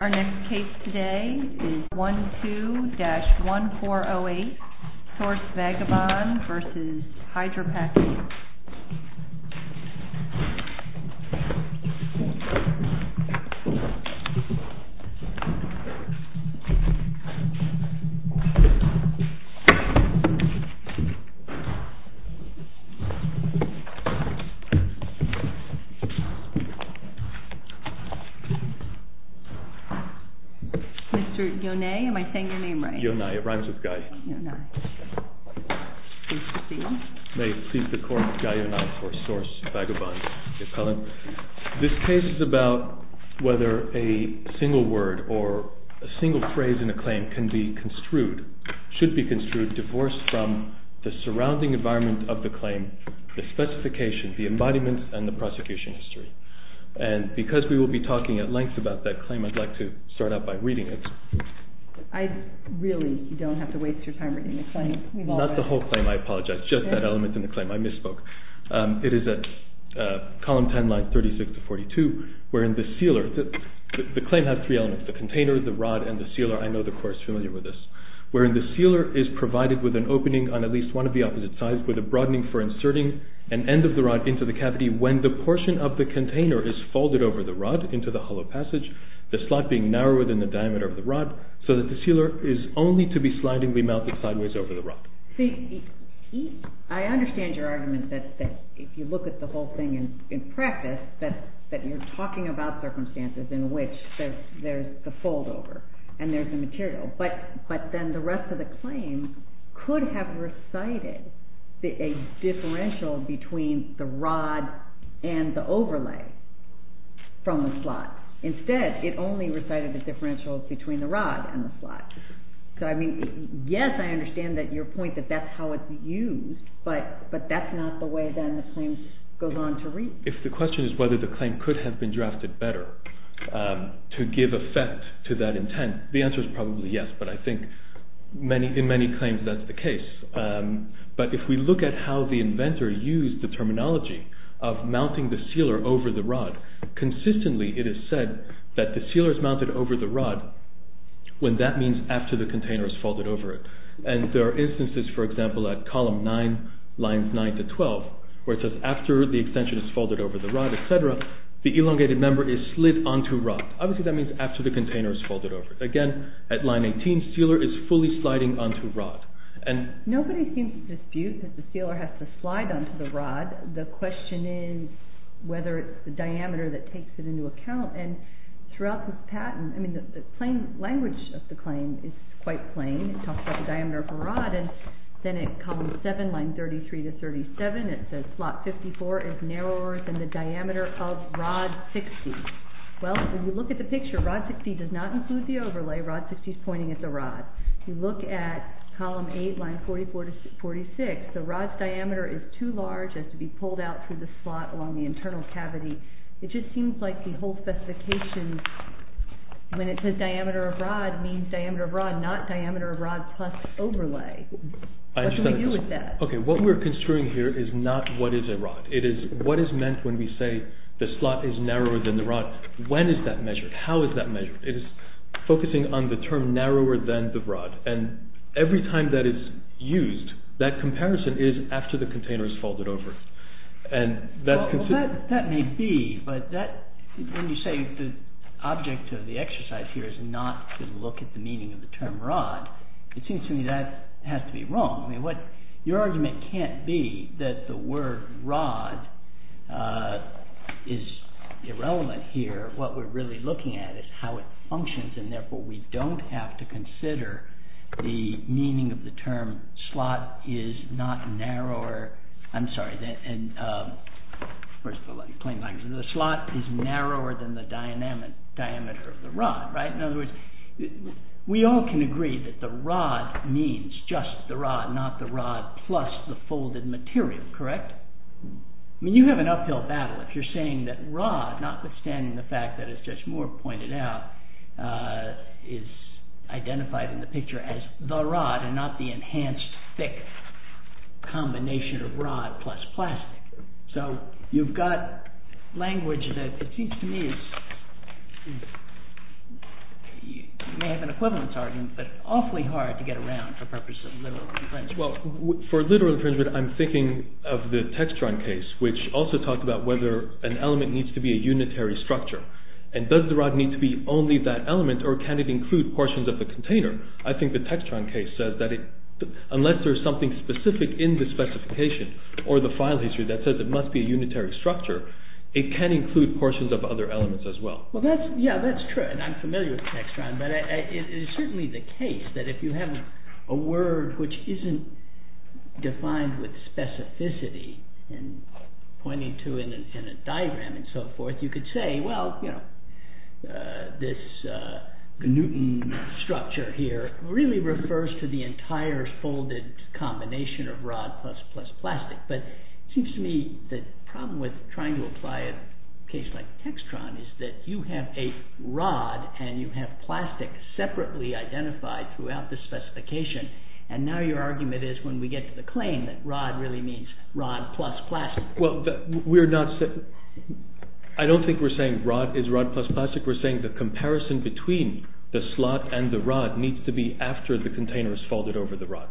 Our next case today is 12-1408 SOURCE VAGABOND v. HYDRAPAK, INC. Mr. Yonai, am I saying your name right? Yonai, it rhymes with Guy. Yonai. Please proceed. May it please the Court, Guy Yonai for SOURCE VAGABOND, the appellant. This case is about whether a single word or a single phrase in a claim can be construed, should be construed, divorced from the surrounding environment of the claim, the specification, the embodiment, and the prosecution history. And because we will be talking at length about that claim, I'd like to start out by reading it. I really don't have to waste your time reading the claim. Not the whole claim, I apologize, just that element in the claim, I misspoke. It is at column 10, line 36-42, wherein the sealer, the claim has three elements, the container, the rod, and the sealer. I know the Court is familiar with this. Wherein the sealer is provided with an opening on at least one of the opposite sides, with a broadening for inserting an end of the rod into the cavity when the portion of the container is folded over the rod into the hollow passage, the slot being narrower than the diameter of the rod, so that the sealer is only to be slidingly mounted sideways over the rod. See, I understand your argument that if you look at the whole thing in practice, that you're talking about circumstances in which there's the foldover and there's the material. But then the rest of the claim could have recited a differential between the rod and the overlay from the slot. Instead, it only recited the differential between the rod and the slot. Yes, I understand your point that that's how it's used, but that's not the way then the claim goes on to read. If the question is whether the claim could have been drafted better to give effect to that intent, the answer is probably yes. But I think in many claims that's the case. But if we look at how the inventor used the terminology of mounting the sealer over the rod, consistently it is said that the sealer is mounted over the rod when that means after the container is folded over it. And there are instances, for example, at column 9, lines 9 to 12, where it says after the extension is folded over the rod, etc., the elongated member is slid onto rod. Obviously that means after the container is folded over. Again, at line 18, sealer is fully sliding onto rod. Nobody seems to dispute that the sealer has to slide onto the rod. The question is whether it's the diameter that takes it into account. And throughout this patent, the plain language of the claim is quite plain. It talks about the diameter of the rod. And then at column 7, lines 33 to 37, it says slot 54 is narrower than the diameter of rod 60. Well, if you look at the picture, rod 60 does not include the overlay. Rod 60 is pointing at the rod. If you look at column 8, lines 44 to 46, the rod's diameter is too large. It has to be pulled out through the slot along the internal cavity. It just seems like the whole specification when it says diameter of rod means diameter of rod, not diameter of rod plus overlay. What do we do with that? Okay, what we're construing here is not what is a rod. It is what is meant when we say the slot is narrower than the rod. When is that measured? How is that measured? It is focusing on the term narrower than the rod. And every time that is used, that comparison is after the container is folded over. That may be, but when you say the object of the exercise here is not to look at the meaning of the term rod, it seems to me that has to be wrong. Your argument can't be that the word rod is irrelevant here. What we're really looking at is how it functions, and therefore we don't have to consider the meaning of the term slot is not narrower than the diameter of the rod. In other words, we all can agree that the rod means just the rod, not the rod plus the folded material, correct? You have an uphill battle if you're saying that rod, notwithstanding the fact that as Judge Moore pointed out, the rod is identified in the picture as the rod and not the enhanced thick combination of rod plus plastic. So you've got language that seems to me, you may have an equivalence argument, but awfully hard to get around for purposes of literal infringement. For literal infringement, I'm thinking of the Textron case, which also talked about whether an element needs to be a unitary structure. Does the rod need to be only that element, or can it include portions of the container? I think the Textron case says that unless there's something specific in the specification, or the file history that says it must be a unitary structure, it can include portions of other elements as well. That's true, and I'm familiar with Textron, but it's certainly the case that if you have a word which isn't defined with specificity, pointing to it in a diagram and so forth, you could say, well, this Newton structure here really refers to the entire folded combination of rod plus plastic. But it seems to me the problem with trying to apply a case like Textron is that you have a rod and you have plastic separately identified throughout the specification, and now your argument is when we get to the claim that rod really means rod plus plastic. I don't think we're saying rod is rod plus plastic. We're saying the comparison between the slot and the rod needs to be after the container is folded over the rod.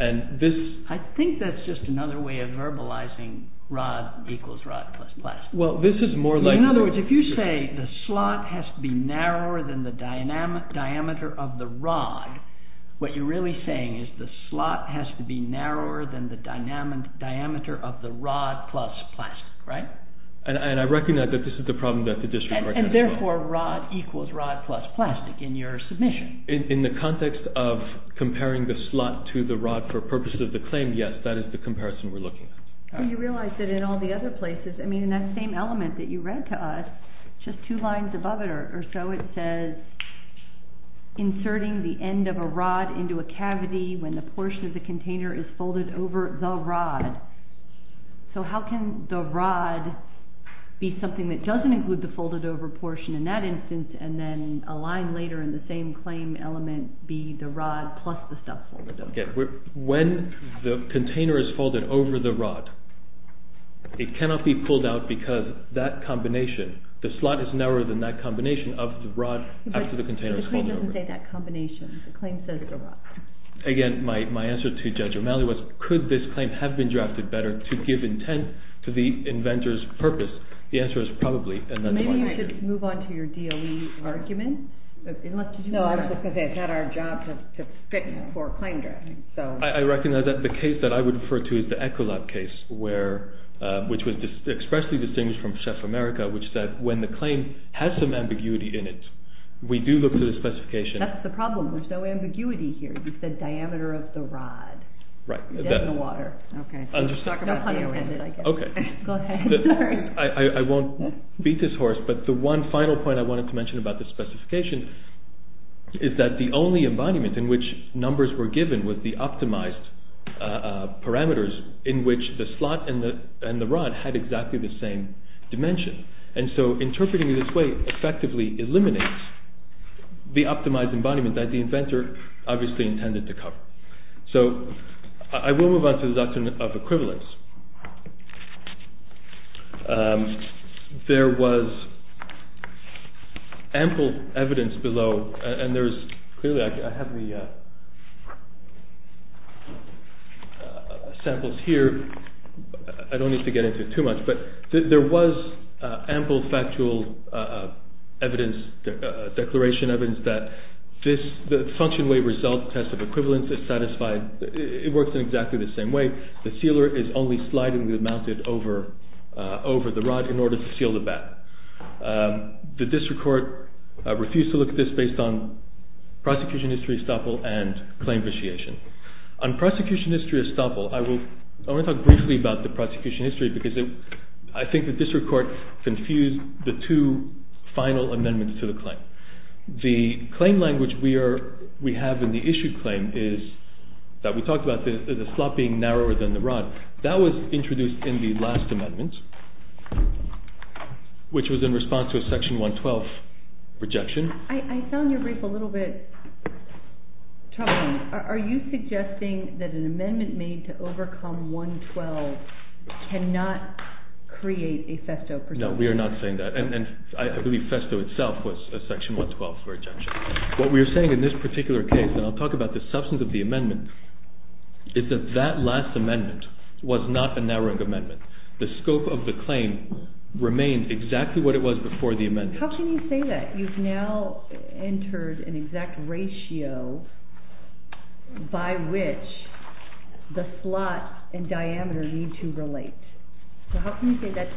I think that's just another way of verbalizing rod equals rod plus plastic. In other words, if you say the slot has to be narrower than the diameter of the rod, what you're really saying is the slot has to be narrower than the diameter of the rod plus plastic, right? And I recognize that this is the problem that the district is working on. And therefore, rod equals rod plus plastic in your submission. In the context of comparing the slot to the rod for purposes of the claim, yes, that is the comparison we're looking at. And you realize that in all the other places, I mean, in that same element that you read to us, just two lines above it or so it says, inserting the end of a rod into a cavity when the portion of the container is folded over the rod. So how can the rod be something that doesn't include the folded over portion in that instance and then a line later in the same claim element be the rod plus the stuff folded over? When the container is folded over the rod, it cannot be pulled out because that combination, the slot is narrower than that combination of the rod after the container is folded over. The claim doesn't say that combination. The claim says the rod. Again, my answer to Judge O'Malley was, could this claim have been drafted better to give intent to the inventor's purpose? The answer is probably, and that's why I did it. Maybe you should move on to your DOE argument. No, I was just going to say, it's not our job to fit for a claim draft. I recognize that the case that I would refer to is the Ecolab case, which was expressly distinguished from Chef America, which said when the claim has some ambiguity in it, we do look to the specification. That's the problem. There's no ambiguity here. You said diameter of the rod. Right. Dead in the water. Okay. No pun intended, I guess. Go ahead. I won't beat this horse, but the one final point I wanted to mention about the specification is that the only embodiment in which numbers were given was the optimized parameters in which the slot and the rod had exactly the same dimension. And so interpreting it this way effectively eliminates the optimized embodiment that the inventor obviously intended to cover. So I will move on to the doctrine of equivalence. There was ample evidence below, and clearly I have the samples here. I don't need to get into it too much, but there was ample factual evidence, declaration evidence, that the function way result test of equivalence is satisfied. It works in exactly the same way. The sealer is only sliding the mounted over the rod in order to seal the back. The district court refused to look at this based on prosecution history estoppel and claim vitiation. On prosecution history estoppel, I want to talk briefly about the prosecution history because I think the district court confused the two final amendments to the claim. The claim language we have in the issued claim is that we talked about the slot being narrower than the rod. That was introduced in the last amendment, which was in response to a section 112 rejection. I found your brief a little bit troubling. Are you suggesting that an amendment made to overcome 112 cannot create a festo? No, we are not saying that, and I believe festo itself was a section 112 rejection. What we are saying in this particular case, and I'll talk about the substance of the amendment, is that that last amendment was not a narrowing amendment. The scope of the claim remained exactly what it was before the amendment. How can you say that? You've now entered an exact ratio by which the slot and diameter need to relate. It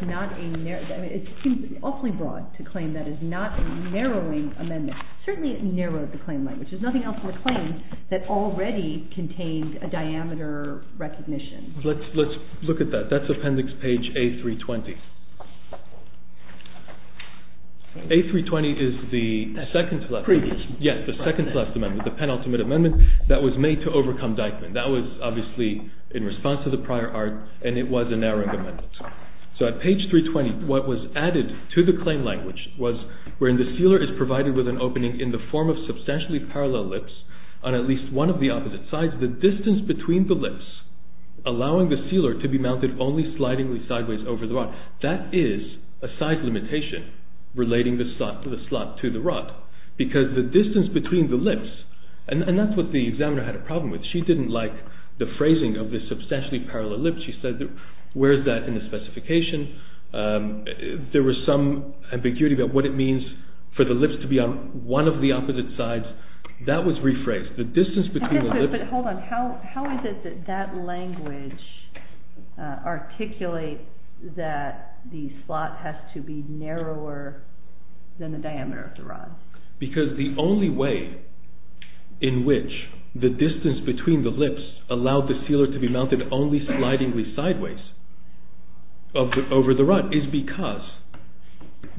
seems awfully broad to claim that it's not a narrowing amendment. Certainly it narrowed the claim language. There's nothing else in the claim that already contains a diameter recognition. Let's look at that. That's appendix page A320. A320 is the second to last amendment, the penultimate amendment that was made to overcome Dyckman. That was obviously in response to the prior art, and it was a narrowing amendment. So at page 320, what was added to the claim language was wherein the sealer is provided with an opening in the form of substantially parallel lips on at least one of the opposite sides, the distance between the lips allowing the sealer to be mounted only slidingly sideways over the rod. That is a size limitation relating the slot to the rod because the distance between the lips, and that's what the examiner had a problem with. She didn't like the phrasing of the substantially parallel lips. She said, where is that in the specification? There was some ambiguity about what it means for the lips to be on one of the opposite sides. That was rephrased. The distance between the lips… That the slot has to be narrower than the diameter of the rod. Because the only way in which the distance between the lips allowed the sealer to be mounted only slidingly sideways over the rod is because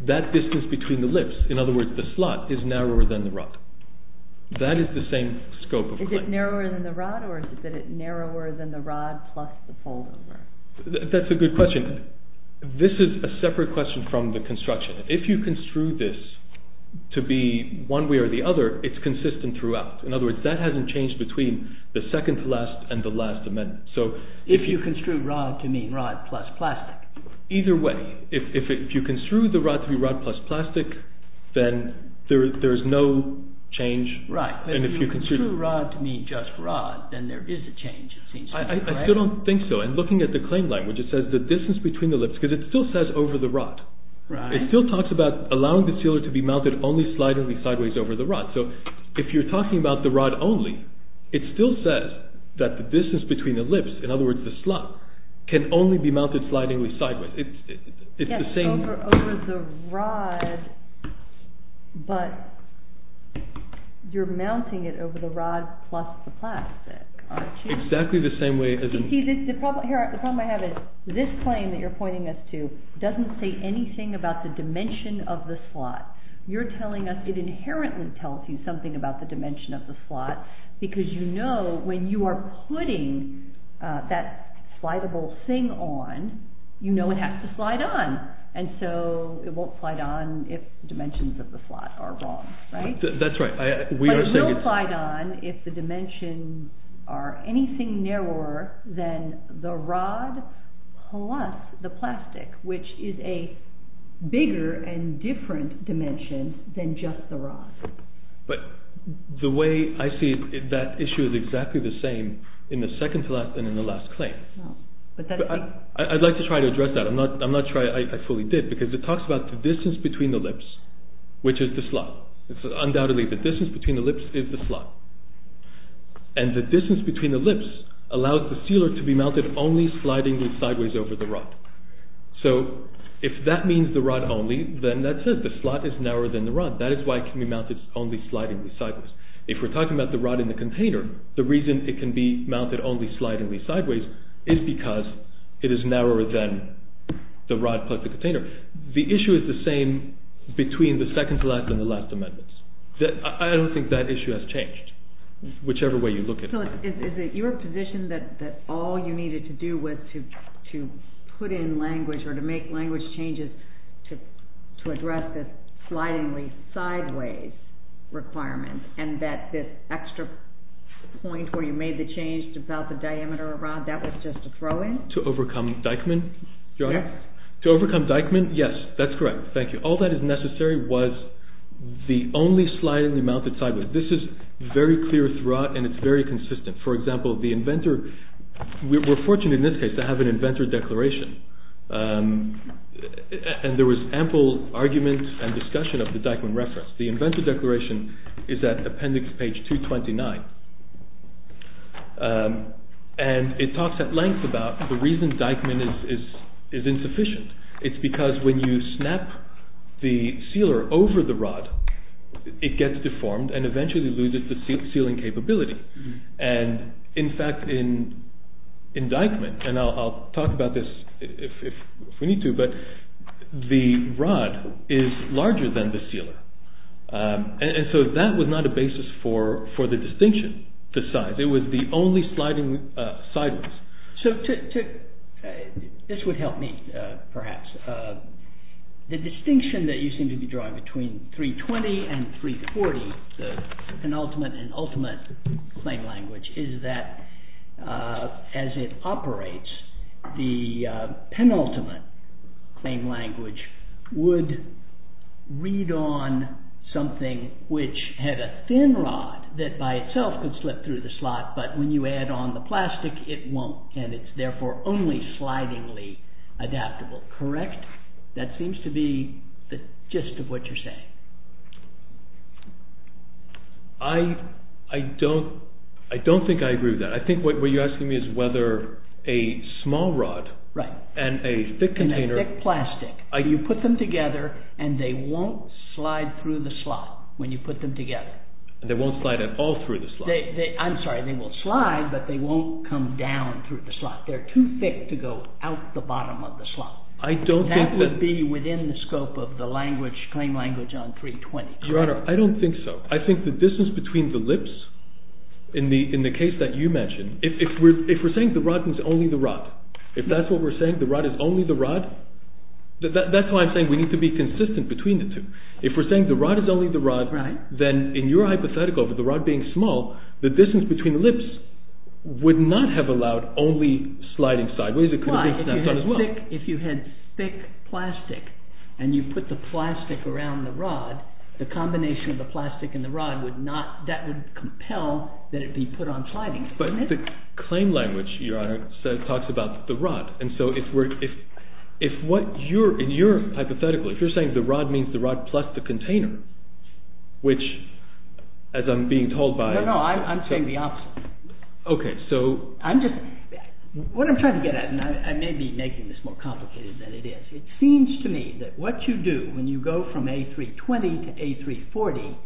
that distance between the lips, in other words the slot, is narrower than the rod. That is the same scope of claim. Is it narrower than the rod or is it narrower than the rod plus the fold over? That's a good question. This is a separate question from the construction. If you construe this to be one way or the other, it's consistent throughout. In other words, that hasn't changed between the second to last and the last amendment. If you construe rod to mean rod plus plastic? Either way. If you construe the rod to be rod plus plastic, then there is no change. Right. If you construe rod to mean just rod, then there is a change, it seems to me. I still don't think so. And looking at the claim language, it says the distance between the lips. Because it still says over the rod. It still talks about allowing the sealer to be mounted only slidingly sideways over the rod. So if you're talking about the rod only, it still says that the distance between the lips, in other words the slot, can only be mounted slidingly sideways. Yes, over the rod, but you're mounting it over the rod plus the plastic, aren't you? The problem I have is this claim that you're pointing us to doesn't say anything about the dimension of the slot. You're telling us it inherently tells you something about the dimension of the slot because you know when you are putting that slideable thing on, you know it has to slide on. And so it won't slide on if the dimensions of the slot are wrong, right? That's right. But it will slide on if the dimensions are anything narrower than the rod plus the plastic, which is a bigger and different dimension than just the rod. But the way I see it, that issue is exactly the same in the second to last and in the last claim. I'd like to try to address that. I'm not sure I fully did. Because it talks about the distance between the lips, which is the slot. Undoubtedly, the distance between the lips is the slot. And the distance between the lips allows the sealer to be mounted only slidingly sideways over the rod. So if that means the rod only, then that says the slot is narrower than the rod. That is why it can be mounted only slidingly sideways. If we're talking about the rod in the container, the reason it can be mounted only slidingly sideways is because it is narrower than the rod plus the container. The issue is the same between the second to last and the last amendments. I don't think that issue has changed, whichever way you look at it. So is it your position that all you needed to do was to put in language or to make language changes to address this slidingly sideways requirement and that this extra point where you made the change about the diameter of the rod, that was just a throw in? To overcome Dyckman? Yes. To overcome Dyckman? Yes, that's correct. Thank you. All that is necessary was the only slidingly mounted sideways. This is very clear throughout and it's very consistent. For example, the inventor, we're fortunate in this case to have an inventor declaration. And there was ample argument and discussion of the Dyckman reference. The inventor declaration is at appendix page 229. And it talks at length about the reason Dyckman is insufficient. It's because when you snap the sealer over the rod, it gets deformed and eventually loses the sealing capability. And in fact, in Dyckman, and I'll talk about this if we need to, but the rod is larger than the sealer. And so that was not a basis for the distinction to size. It was the only sliding sideways. So this would help me perhaps. The distinction that you seem to be drawing between 320 and 340, the penultimate and ultimate claim language, is that as it operates, the penultimate claim language would read on something which had a thin rod that by itself could slip through the slot, but when you add on the plastic, it won't. And it's therefore only slidingly adaptable, correct? That seems to be the gist of what you're saying. I don't think I agree with that. I think what you're asking me is whether a small rod and a thick container… And a thick plastic. You put them together and they won't slide through the slot when you put them together. They won't slide at all through the slot. I'm sorry, they will slide, but they won't come down through the slot. They're too thick to go out the bottom of the slot. That would be within the scope of the claim language on 320. Your Honor, I don't think so. I think the distance between the lips, in the case that you mentioned, if we're saying the rod means only the rod, if that's what we're saying, the rod is only the rod, that's why I'm saying we need to be consistent between the two. If we're saying the rod is only the rod, then in your hypothetical, with the rod being small, the distance between the lips would not have allowed only sliding sideways. Why? If you had thick plastic and you put the plastic around the rod, the combination of the plastic and the rod would not… that would compel that it be put on sliding. But the claim language, Your Honor, talks about the rod, and so if what you're, in your hypothetical, if you're saying the rod means the rod plus the container, which, as I'm being told by… No, no, I'm saying the opposite. Okay, so I'm just… What I'm trying to get at, and I may be making this more complicated than it is, it seems to me that what you do when you go from A320 to A340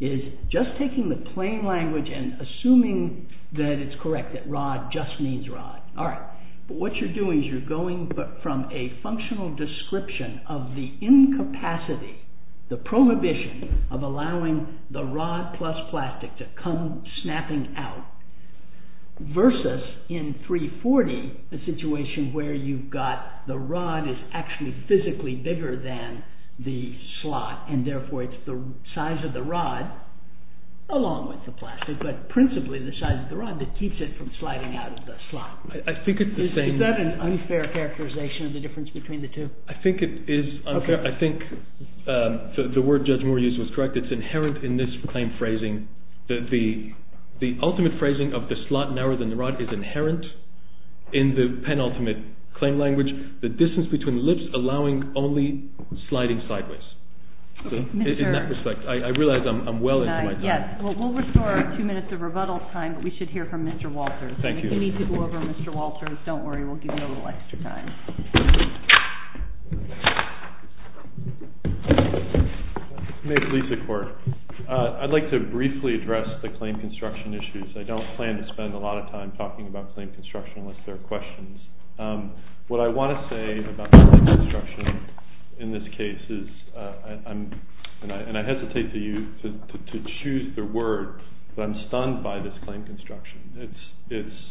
is just taking the plain language and assuming that it's correct, that rod just means rod. But what you're doing is you're going from a functional description of the incapacity, the prohibition, of allowing the rod plus plastic to come snapping out, versus in A340, a situation where you've got the rod is actually physically bigger than the slot, and therefore it's the size of the rod, along with the plastic, but principally the size of the rod that keeps it from sliding out of the slot. I think it's the same… Is that an unfair characterization of the difference between the two? I think it is unfair. I think the word Judge Moore used was correct. It's inherent in this claim phrasing. The ultimate phrasing of the slot narrower than the rod is inherent in the penultimate claim language, the distance between lips allowing only sliding sideways. In that respect, I realize I'm well into my time. We'll restore our two minutes of rebuttal time, but we should hear from Mr. Walters. If you need to go over Mr. Walters, don't worry, we'll give you a little extra time. My name is Lisa Court. I'd like to briefly address the claim construction issues. I don't plan to spend a lot of time talking about claim construction unless there are questions. What I want to say about claim construction in this case is, and I hesitate to choose the word, but I'm stunned by this claim construction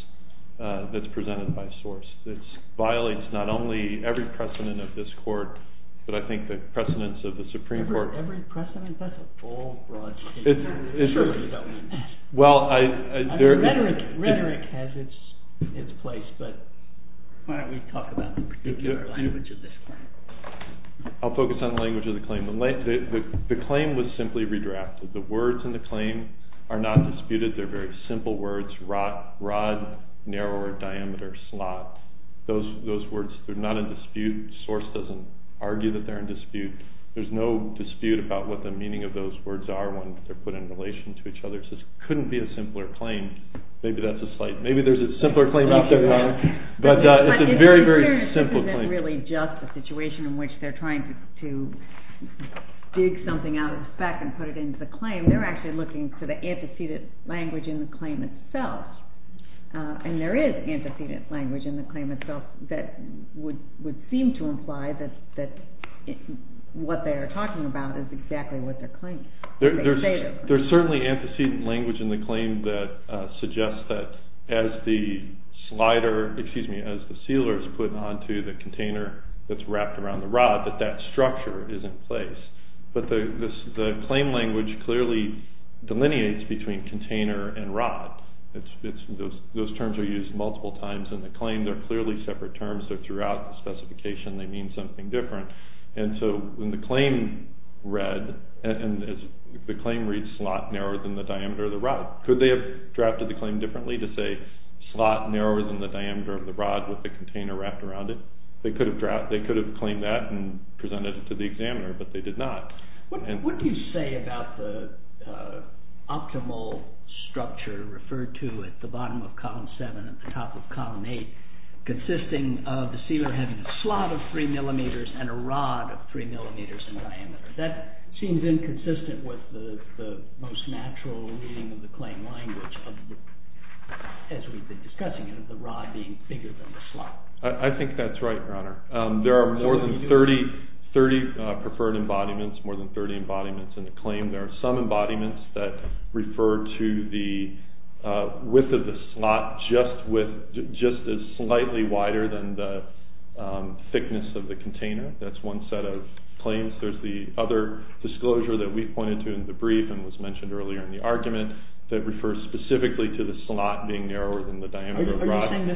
that's presented by source. It violates not only every precedent of this court, but I think the precedents of the Supreme Court. Every precedent? That's a full broad statement. Rhetoric has its place, but why don't we talk about the particular language of this claim? I'll focus on the language of the claim. The claim was simply redrafted. The words in the claim are not disputed. They're very simple words, rod, narrower diameter, slot. Those words are not in dispute. Source doesn't argue that they're in dispute. There's no dispute about what the meaning of those words are when they're put in relation to each other. It just couldn't be a simpler claim. Maybe there's a simpler claim out there, Connor, but it's a very, very simple claim. This isn't really just a situation in which they're trying to dig something out of the back and put it into the claim. They're actually looking for the antecedent language in the claim itself, and there is antecedent language in the claim itself that would seem to imply that what they're talking about is exactly what they're claiming. There's certainly antecedent language in the claim that suggests that as the sealer is put onto the container but the claim language clearly delineates between container and rod. Those terms are used multiple times in the claim. They're clearly separate terms. They're throughout the specification. They mean something different. When the claim reads slot narrower than the diameter of the rod, could they have drafted the claim differently to say slot narrower than the diameter of the rod with the container wrapped around it? They could have claimed that and presented it to the examiner, but they did not. What do you say about the optimal structure referred to at the bottom of column 7 and the top of column 8 consisting of the sealer having a slot of 3 millimeters and a rod of 3 millimeters in diameter? That seems inconsistent with the most natural reading of the claim language as we've been discussing it, of the rod being bigger than the slot. I think that's right, Your Honor. There are more than 30 preferred embodiments, more than 30 embodiments in the claim. There are some embodiments that refer to the width of the slot just as slightly wider than the thickness of the container. That's one set of claims. There's the other disclosure that we pointed to in the brief and was mentioned earlier in the argument that refers specifically to the slot being narrower than the diameter of the rod. Are you saying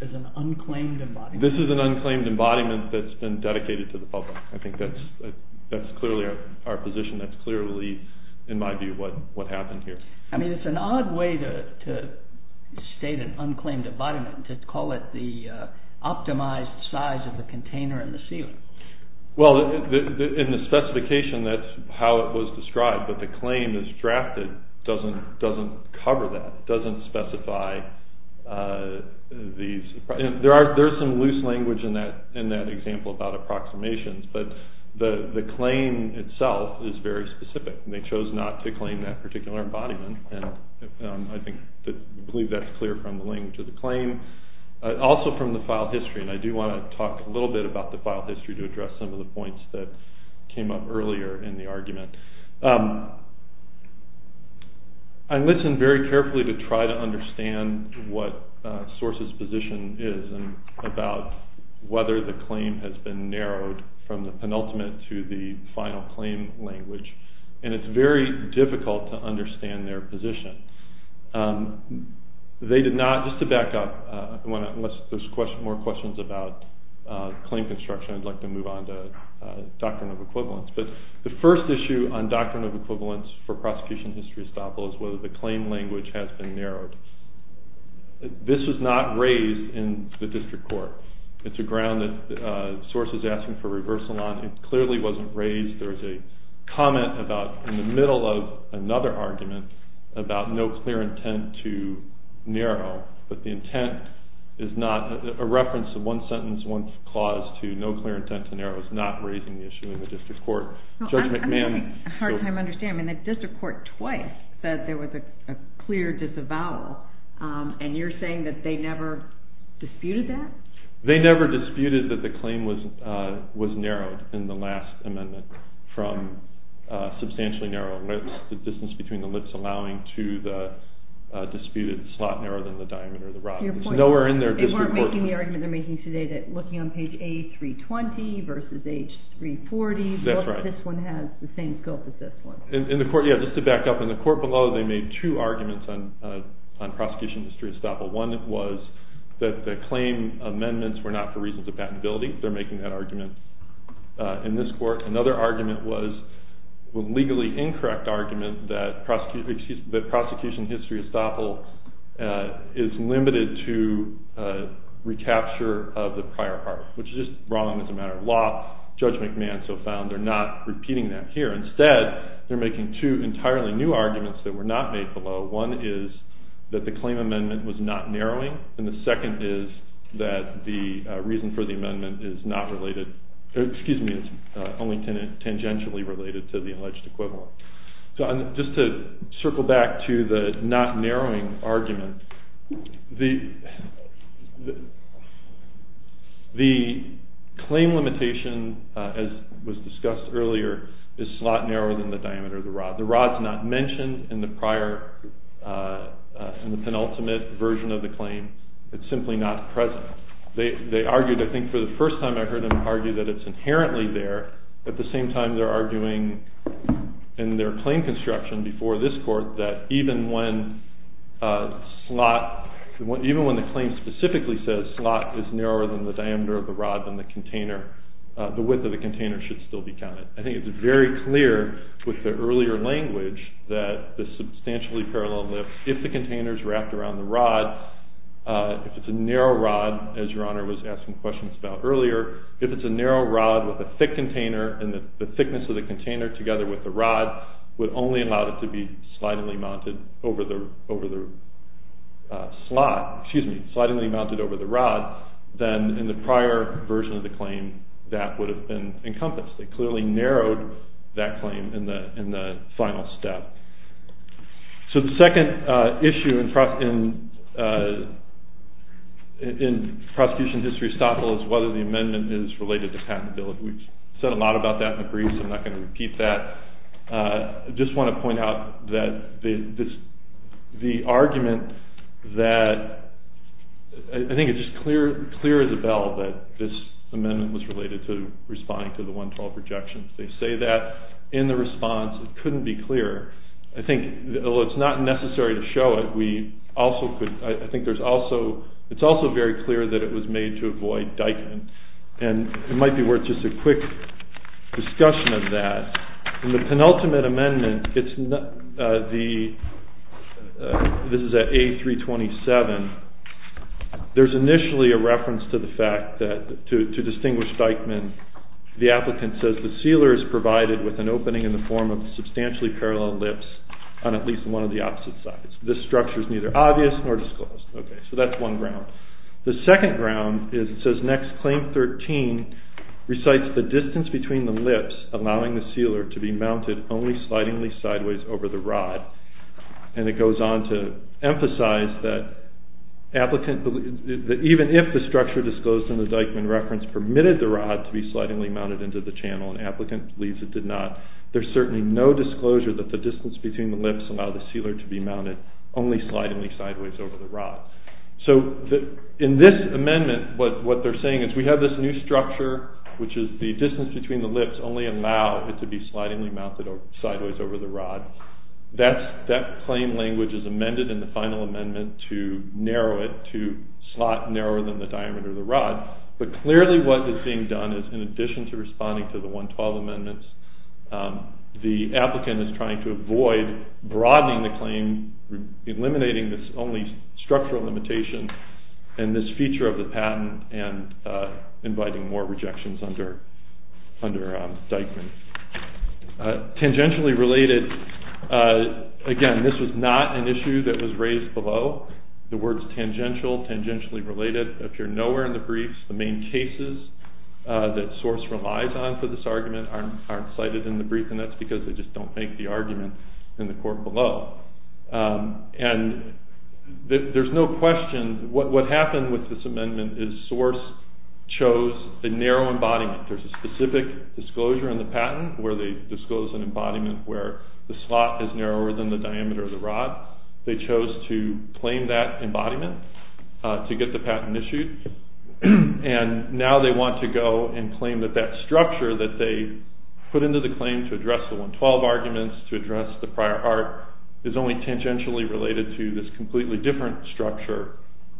this is an unclaimed embodiment? This is an unclaimed embodiment that's been dedicated to the public. I think that's clearly our position. That's clearly, in my view, what happened here. I mean, it's an odd way to state an unclaimed embodiment and to call it the optimized size of the container and the sealer. Well, in the specification, that's how it was described, but the claim that's drafted doesn't cover that, doesn't specify these. There's some loose language in that example about approximations, but the claim itself is very specific. They chose not to claim that particular embodiment, and I believe that's clear from the language of the claim, also from the file history, and I do want to talk a little bit about the file history I listened very carefully to try to understand what SORCE's position is about whether the claim has been narrowed from the penultimate to the final claim language, and it's very difficult to understand their position. They did not, just to back up, unless there's more questions about claim construction, I'd like to move on to doctrine of equivalence, but the first issue on doctrine of equivalence for prosecution history estoppel is whether the claim language has been narrowed. This was not raised in the district court. It's a ground that SORCE is asking for reversal on. It clearly wasn't raised. There's a comment about, in the middle of another argument, about no clear intent to narrow, but the intent is not a reference to one sentence, one clause, to no clear intent to narrow is not raising the issue in the district court. Judge McMahon... I'm having a hard time understanding. The district court twice said there was a clear disavowal, and you're saying that they never disputed that? They never disputed that the claim was narrowed in the last amendment from substantially narrow lips, the distance between the lips allowing to the disputed slot narrower than the diameter of the rod. They weren't making the argument they're making today that looking on page A320 versus A340, this one has the same scope as this one. Just to back up, in the court below, they made two arguments on prosecution history estoppel. One was that the claim amendments were not for reasons of patentability. They're making that argument in this court. Another argument was a legally incorrect argument that prosecution history estoppel is limited to recapture of the prior part, which is wrong as a matter of law. Judge McMahon so found they're not repeating that here. Instead, they're making two entirely new arguments that were not made below. One is that the claim amendment was not narrowing, and the second is that the reason for the amendment is not related. Excuse me, it's only tangentially related to the alleged equivalent. Just to circle back to the not narrowing argument, the claim limitation, as was discussed earlier, is slot narrower than the diameter of the rod. The rod's not mentioned in the prior, in the penultimate version of the claim. It's simply not present. They argued, I think for the first time I heard them argue that it's inherently there, but at the same time they're arguing in their claim construction before this court that even when slot, even when the claim specifically says slot is narrower than the diameter of the rod than the container, the width of the container should still be counted. I think it's very clear with the earlier language that the substantially parallel lift, if the container's wrapped around the rod, if it's a narrow rod, as Your Honor was asking questions about earlier, if it's a narrow rod with a thick container and the thickness of the container together with the rod would only allow it to be slidingly mounted over the slot, excuse me, slidingly mounted over the rod, then in the prior version of the claim that would have been encompassed. They clearly narrowed that claim in the final step. So the second issue in prosecution history estoppel is whether the amendment is related to patentability. We've said a lot about that in the briefs. I'm not going to repeat that. I just want to point out that the argument that, I think it's just clear as a bell that this amendment was related to responding to the 112 projections. They say that in the response. It couldn't be clearer. I think it's not necessary to show it. I think it's also very clear that it was made to avoid Dyckman. And it might be worth just a quick discussion of that. In the penultimate amendment, this is at A327, there's initially a reference to the fact that, to distinguish Dyckman, the applicant says, the sealer is provided with an opening in the form of substantially parallel lips on at least one of the opposite sides. This structure is neither obvious nor disclosed. So that's one ground. The second ground is it says, next claim 13 recites the distance between the lips allowing the sealer to be mounted only slidingly sideways over the rod. And it goes on to emphasize that even if the structure disclosed in the Dyckman reference permitted the rod to be slidingly mounted into the channel and the applicant believes it did not, there's certainly no disclosure that the distance between the lips allow the sealer to be mounted only slidingly sideways over the rod. So in this amendment, what they're saying is we have this new structure, which is the distance between the lips only allow it to be slidingly mounted sideways over the rod. That claim language is amended in the final amendment to narrow it, to slot narrower than the diameter of the rod. But clearly what is being done is, in addition to responding to the 112 amendments, the applicant is trying to avoid broadening the claim, eliminating this only structural limitation and this feature of the patent and inviting more rejections under Dyckman. Tangentially related, again, this was not an issue that was raised below. The words tangential, tangentially related appear nowhere in the briefs. The main cases that Source relies on for this argument aren't cited in the brief and that's because they just don't make the argument in the court below. And there's no question, what happened with this amendment is Source chose a narrow embodiment. There's a specific disclosure in the patent where they disclose an embodiment where the slot is narrower than the diameter of the rod. They chose to claim that embodiment to get the patent issued. And now they want to go and claim that that structure that they put into the claim to address the 112 arguments, to address the prior art, is only tangentially related to this completely different structure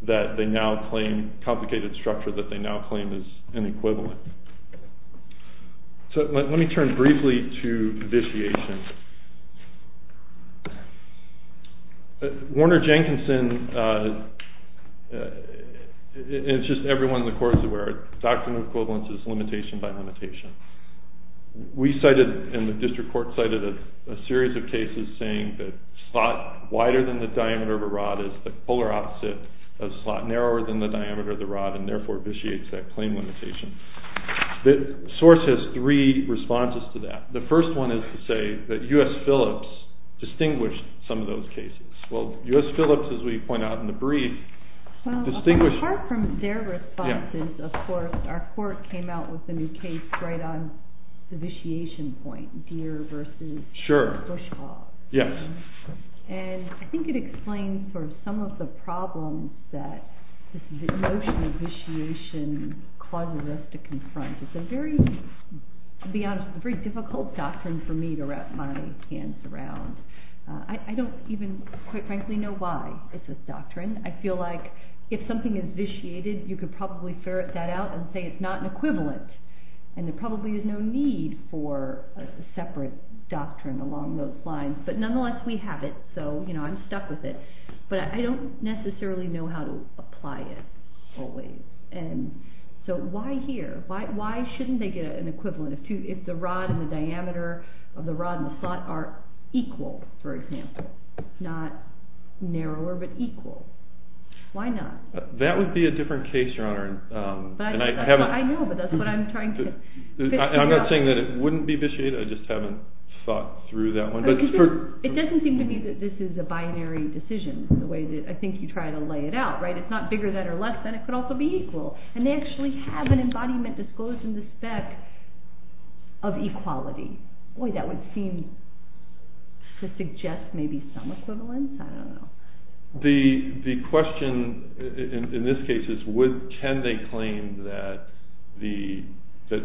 that they now claim, complicated structure that they now claim is an equivalent. So let me turn briefly to vitiations. Warner-Jenkinson, and it's just everyone in the court is aware, doctrine of equivalence is limitation by limitation. We cited, and the district court cited a series of cases saying that slot wider than the diameter of a rod is the polar opposite of slot narrower than the diameter of the rod and therefore vitiates that claim limitation. Source has three responses to that. The first one is to say that U.S. Phillips distinguished some of those cases. Well, U.S. Phillips, as we point out in the brief, distinguished... Well, apart from their responses, of course, our court came out with a new case right on the vitiation point, Deere versus... Sure. ...Bushhall. Yes. And I think it explains for some of the problems that this notion of vitiation causes us to confront. It's a very, to be honest, very difficult doctrine for me to wrap my hands around. I don't even quite frankly know why it's a doctrine. I feel like if something is vitiated, you could probably ferret that out and say it's not an equivalent, and there probably is no need for a separate doctrine along those lines. But nonetheless, we have it, so I'm stuck with it. But I don't necessarily know how to apply it always. So why here? Why shouldn't they get an equivalent if the rod and the diameter of the rod and the slot are equal, for example? Not narrower, but equal. Why not? That would be a different case, Your Honor. I know, but that's what I'm trying to... I'm not saying that it wouldn't be vitiated. I just haven't thought through that one. It doesn't seem to me that this is a binary decision in the way that I think you try to lay it out, right? It's not bigger than or less than. It could also be equal. And they actually have an embodiment disclosed in the spec of equality. Boy, that would seem to suggest maybe some equivalence. I don't know. The question in this case is can they claim that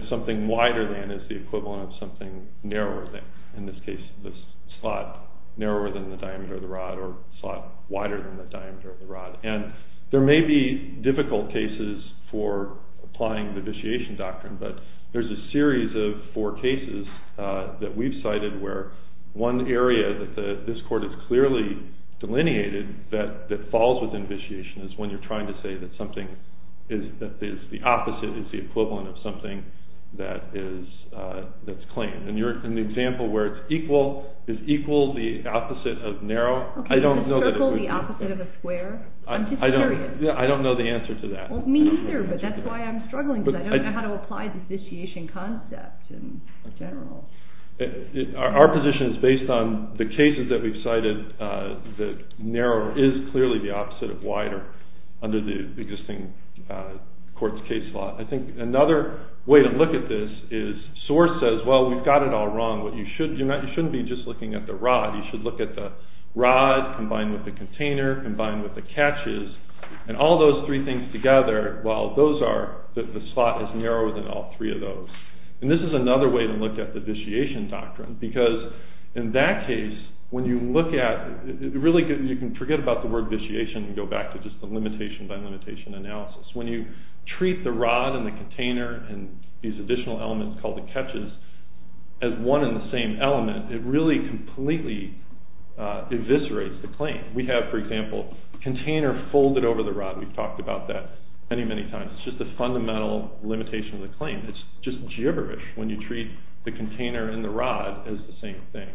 something wider than is the equivalent of something narrower than. In this case, the slot narrower than the diameter of the rod or the slot wider than the diameter of the rod. And there may be difficult cases for applying the vitiation doctrine, but there's a series of four cases that we've cited where one area that this court has clearly delineated that falls within vitiation is when you're trying to say that the opposite is the equivalent of something that's claimed. In the example where it's equal, is equal the opposite of narrow? Circle the opposite of a square? I'm just curious. I don't know the answer to that. Me either, but that's why I'm struggling because I don't know how to apply the vitiation concept in general. Our position is based on the cases that we've cited that narrower is clearly the opposite of wider under the existing court's case law. I think another way to look at this is source says, well, we've got it all wrong. You shouldn't be just looking at the rod. You should look at the rod combined with the container, combined with the catches, and all those three things together, while those are that the slot is narrower than all three of those. And this is another way to look at the vitiation doctrine, because in that case, when you look at it, really you can forget about the word vitiation and go back to just the limitation by limitation analysis. When you treat the rod and the container and these additional elements called the catches as one and the same element, it really completely eviscerates the claim. We have, for example, container folded over the rod. We've talked about that many, many times. It's just a fundamental limitation of the claim. It's just gibberish when you treat the container and the rod as the same thing.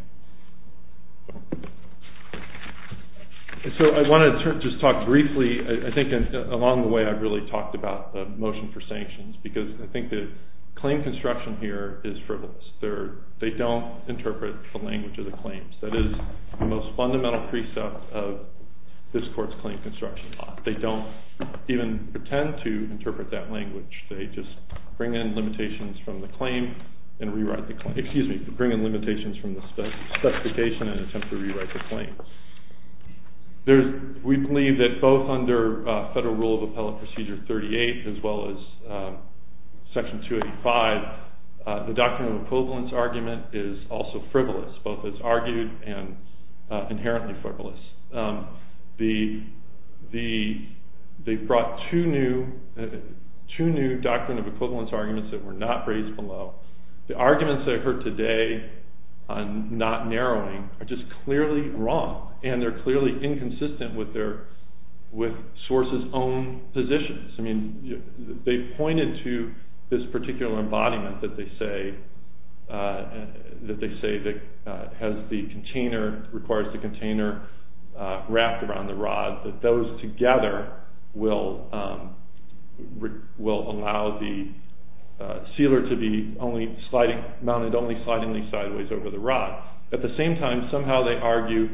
So I want to just talk briefly, I think, along the way I've really talked about the motion for sanctions, because I think the claim construction here is frivolous. They don't interpret the language of the claims. That is the most fundamental precept of this Court's claim construction law. They don't even pretend to interpret that language. They just bring in limitations from the claim and rewrite the claim. Excuse me, bring in limitations from the specification and attempt to rewrite the claim. We believe that both under Federal Rule of Appellate Procedure 38, as well as Section 285, the doctrine of equivalence argument is also frivolous, both as argued and inherently frivolous. They've brought two new doctrine of equivalence arguments that were not raised below. The arguments that I've heard today on not narrowing are just clearly wrong, and they're clearly inconsistent with Swartz's own positions. I mean, they pointed to this particular embodiment that they say that has the container, requires the container wrapped around the rod, that those together will allow the sealer to be mounted only slidingly sideways over the rod. At the same time, somehow they argue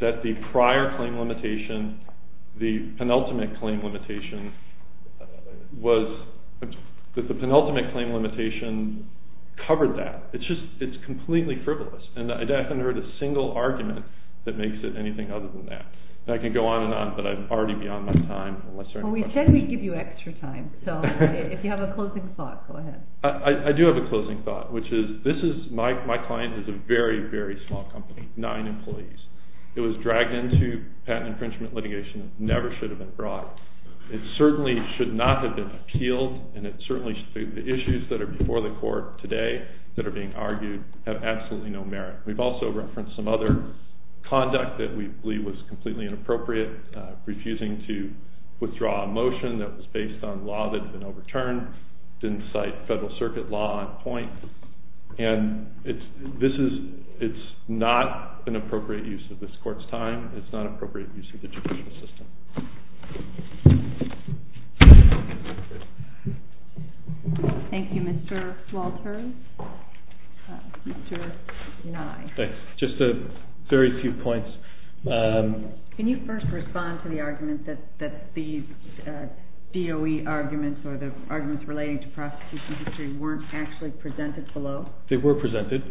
that the prior claim limitation, the penultimate claim limitation, was that the penultimate claim limitation covered that. It's completely frivolous, and I haven't heard a single argument that makes it anything other than that. I can go on and on, but I'm already beyond my time. Well, we said we'd give you extra time, so if you have a closing thought, go ahead. I do have a closing thought, which is my client is a very, very small company, nine employees. It was dragged into patent infringement litigation. It never should have been brought. It certainly should not have been appealed, and it certainly should be. The issues that are before the court today that are being argued have absolutely no merit. We've also referenced some other conduct that we believe was completely inappropriate, refusing to withdraw a motion that was based on law that had been overturned, didn't cite federal circuit law on point, and it's not an appropriate use of this court's time. It's not appropriate use of the judicial system. Thank you, Mr. Walters. Just a very few points. Can you first respond to the argument that these DOE arguments or the arguments relating to prosecution history weren't actually presented below? They were presented.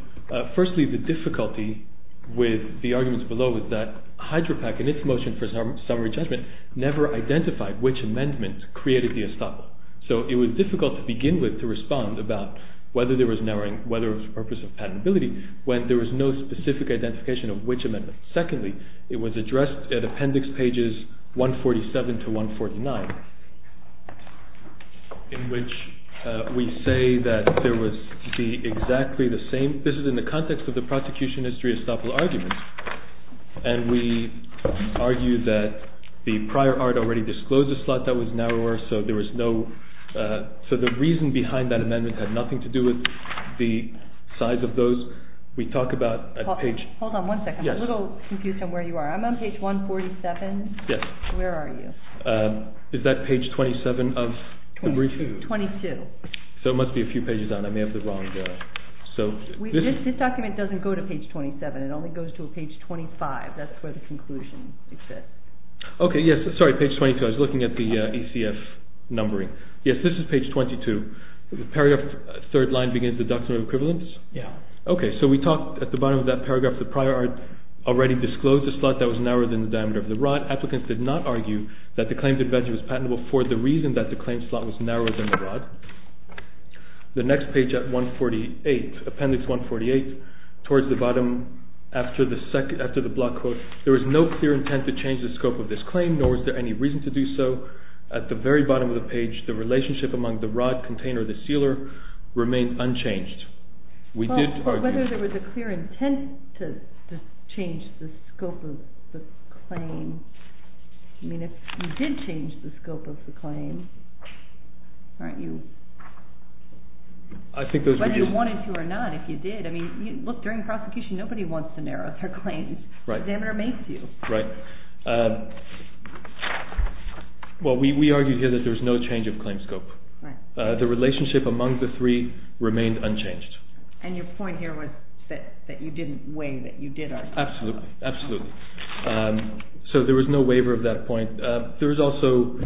Firstly, the difficulty with the arguments below was that HydroPAC, in its motion for summary judgment, never identified which amendment created the estoppel. So it was difficult to begin with to respond about whether there was narrowing, whether it was for the purpose of patentability, when there was no specific identification of which amendment. Secondly, it was addressed at appendix pages 147 to 149, in which we say that there was exactly the same... This is in the context of the prosecution history estoppel arguments, and we argue that the prior art already disclosed a slot that was narrower, so there was no... So the reason behind that amendment had nothing to do with the size of those. We talk about... Hold on one second. I'm a little confused on where you are. I'm on page 147. Yes. Where are you? Is that page 27 of the brief? 22. So it must be a few pages down. I may have the wrong... This document doesn't go to page 27. It only goes to page 25. That's where the conclusion exists. Okay, yes. Sorry, page 22. I was looking at the ECF numbering. Yes, this is page 22. The paragraph, third line, begins the doctrine of equivalence? Yes. Okay, so we talk at the bottom of that paragraph, the prior art already disclosed a slot that was narrower than the diameter of the rod. Applicants did not argue that the claim to be patentable for the reason that the claim slot was narrower than the rod. The next page at 148, appendix 148, towards the bottom, after the block quote, there was no clear intent to change the scope of this claim, nor was there any reason to do so. At the very bottom of the page, the relationship among the rod, container, and the sealer remained unchanged. We did argue... I mean, if you did change the scope of the claim, aren't you... I think those would be... Whether you wanted to or not, if you did. I mean, look, during prosecution, nobody wants to narrow their claims. Right. The examiner makes you. Right. Well, we argued here that there was no change of claim scope. Right. The relationship among the three remained unchanged. And your point here was that you didn't weigh, that you did argue. Absolutely, absolutely. So there was no waiver of that point. There is also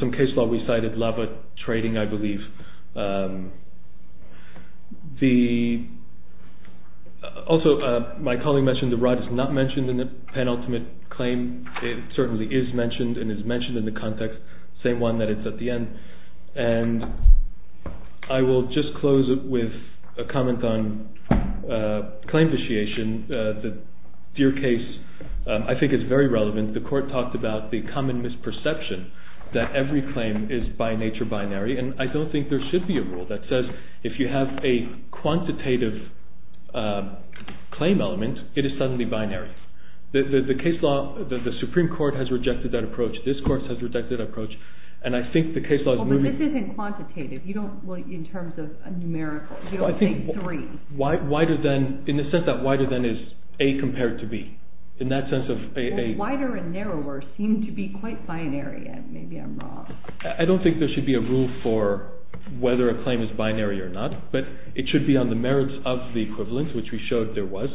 some case law we cited, lava trading, I believe. Also, my colleague mentioned the rod is not mentioned in the penultimate claim. It certainly is mentioned and is mentioned in the context, same one that is at the end. And I will just close with a comment on claim vitiation. Your case, I think, is very relevant. The court talked about the common misperception that every claim is by nature binary. And I don't think there should be a rule that says if you have a quantitative claim element, it is suddenly binary. The case law, the Supreme Court has rejected that approach. This court has rejected that approach. And I think the case law is moving... Well, but this isn't quantitative. You don't, well, in terms of numerical, you don't think three. Wider than, in the sense that wider than is A compared to B. In that sense of A, A. Well, wider and narrower seem to be quite binary. And maybe I'm wrong. I don't think there should be a rule for whether a claim is binary or not. But it should be on the merits of the equivalence, which we showed there was.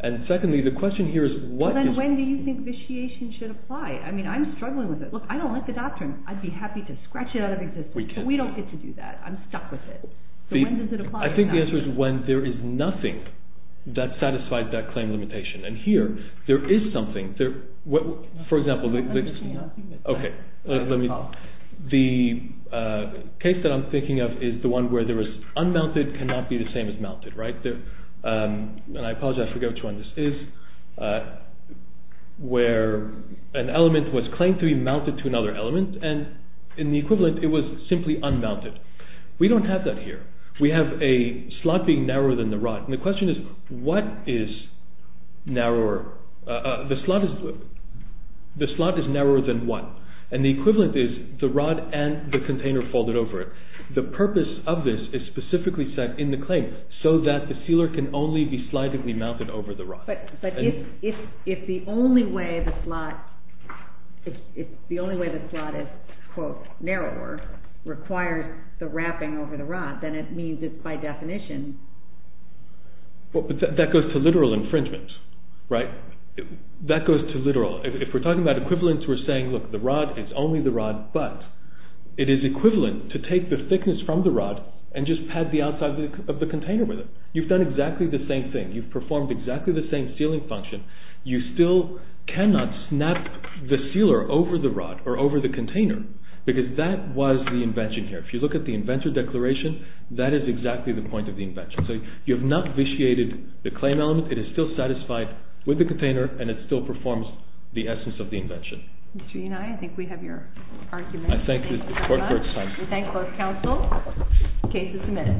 And secondly, the question here is what is... Well, then when do you think vitiation should apply? I mean, I'm struggling with it. Look, I don't like the doctrine. I'd be happy to scratch it out of existence. We can. But we don't get to do that. I'm stuck with it. So when does it apply? I think the answer is when there is nothing that satisfies that claim limitation. And here, there is something. For example... I'm just not... Okay. Let me... The case that I'm thinking of is the one where there is unmounted cannot be the same as mounted. Right? And I apologize. I forget which one this is. Where an element was claimed to be mounted to another element. And in the equivalent, it was simply unmounted. We don't have that here. We have a slot being narrower than the rod. And the question is what is narrower? The slot is narrower than what? And the equivalent is the rod and the container folded over it. The purpose of this is specifically set in the claim so that the sealer can only be slightly mounted over the rod. But if the only way the slot is, quote, narrower requires the wrapping over the rod, then it means that by definition... That goes to literal infringement. Right? That goes to literal. If we're talking about equivalence, we're saying, look, the rod is only the rod, but it is equivalent to take the thickness from the rod and just pad the outside of the container with it. You've done exactly the same thing. You've performed exactly the same sealing function. You still cannot snap the sealer over the rod or over the container because that was the invention here. If you look at the inventor declaration, that is exactly the point of the invention. So you have not vitiated the claim element. It is still satisfied with the container, and it still performs the essence of the invention. Mr. Unai, I think we have your argument. I thank the court for its time. We thank both counsel. The case is submitted.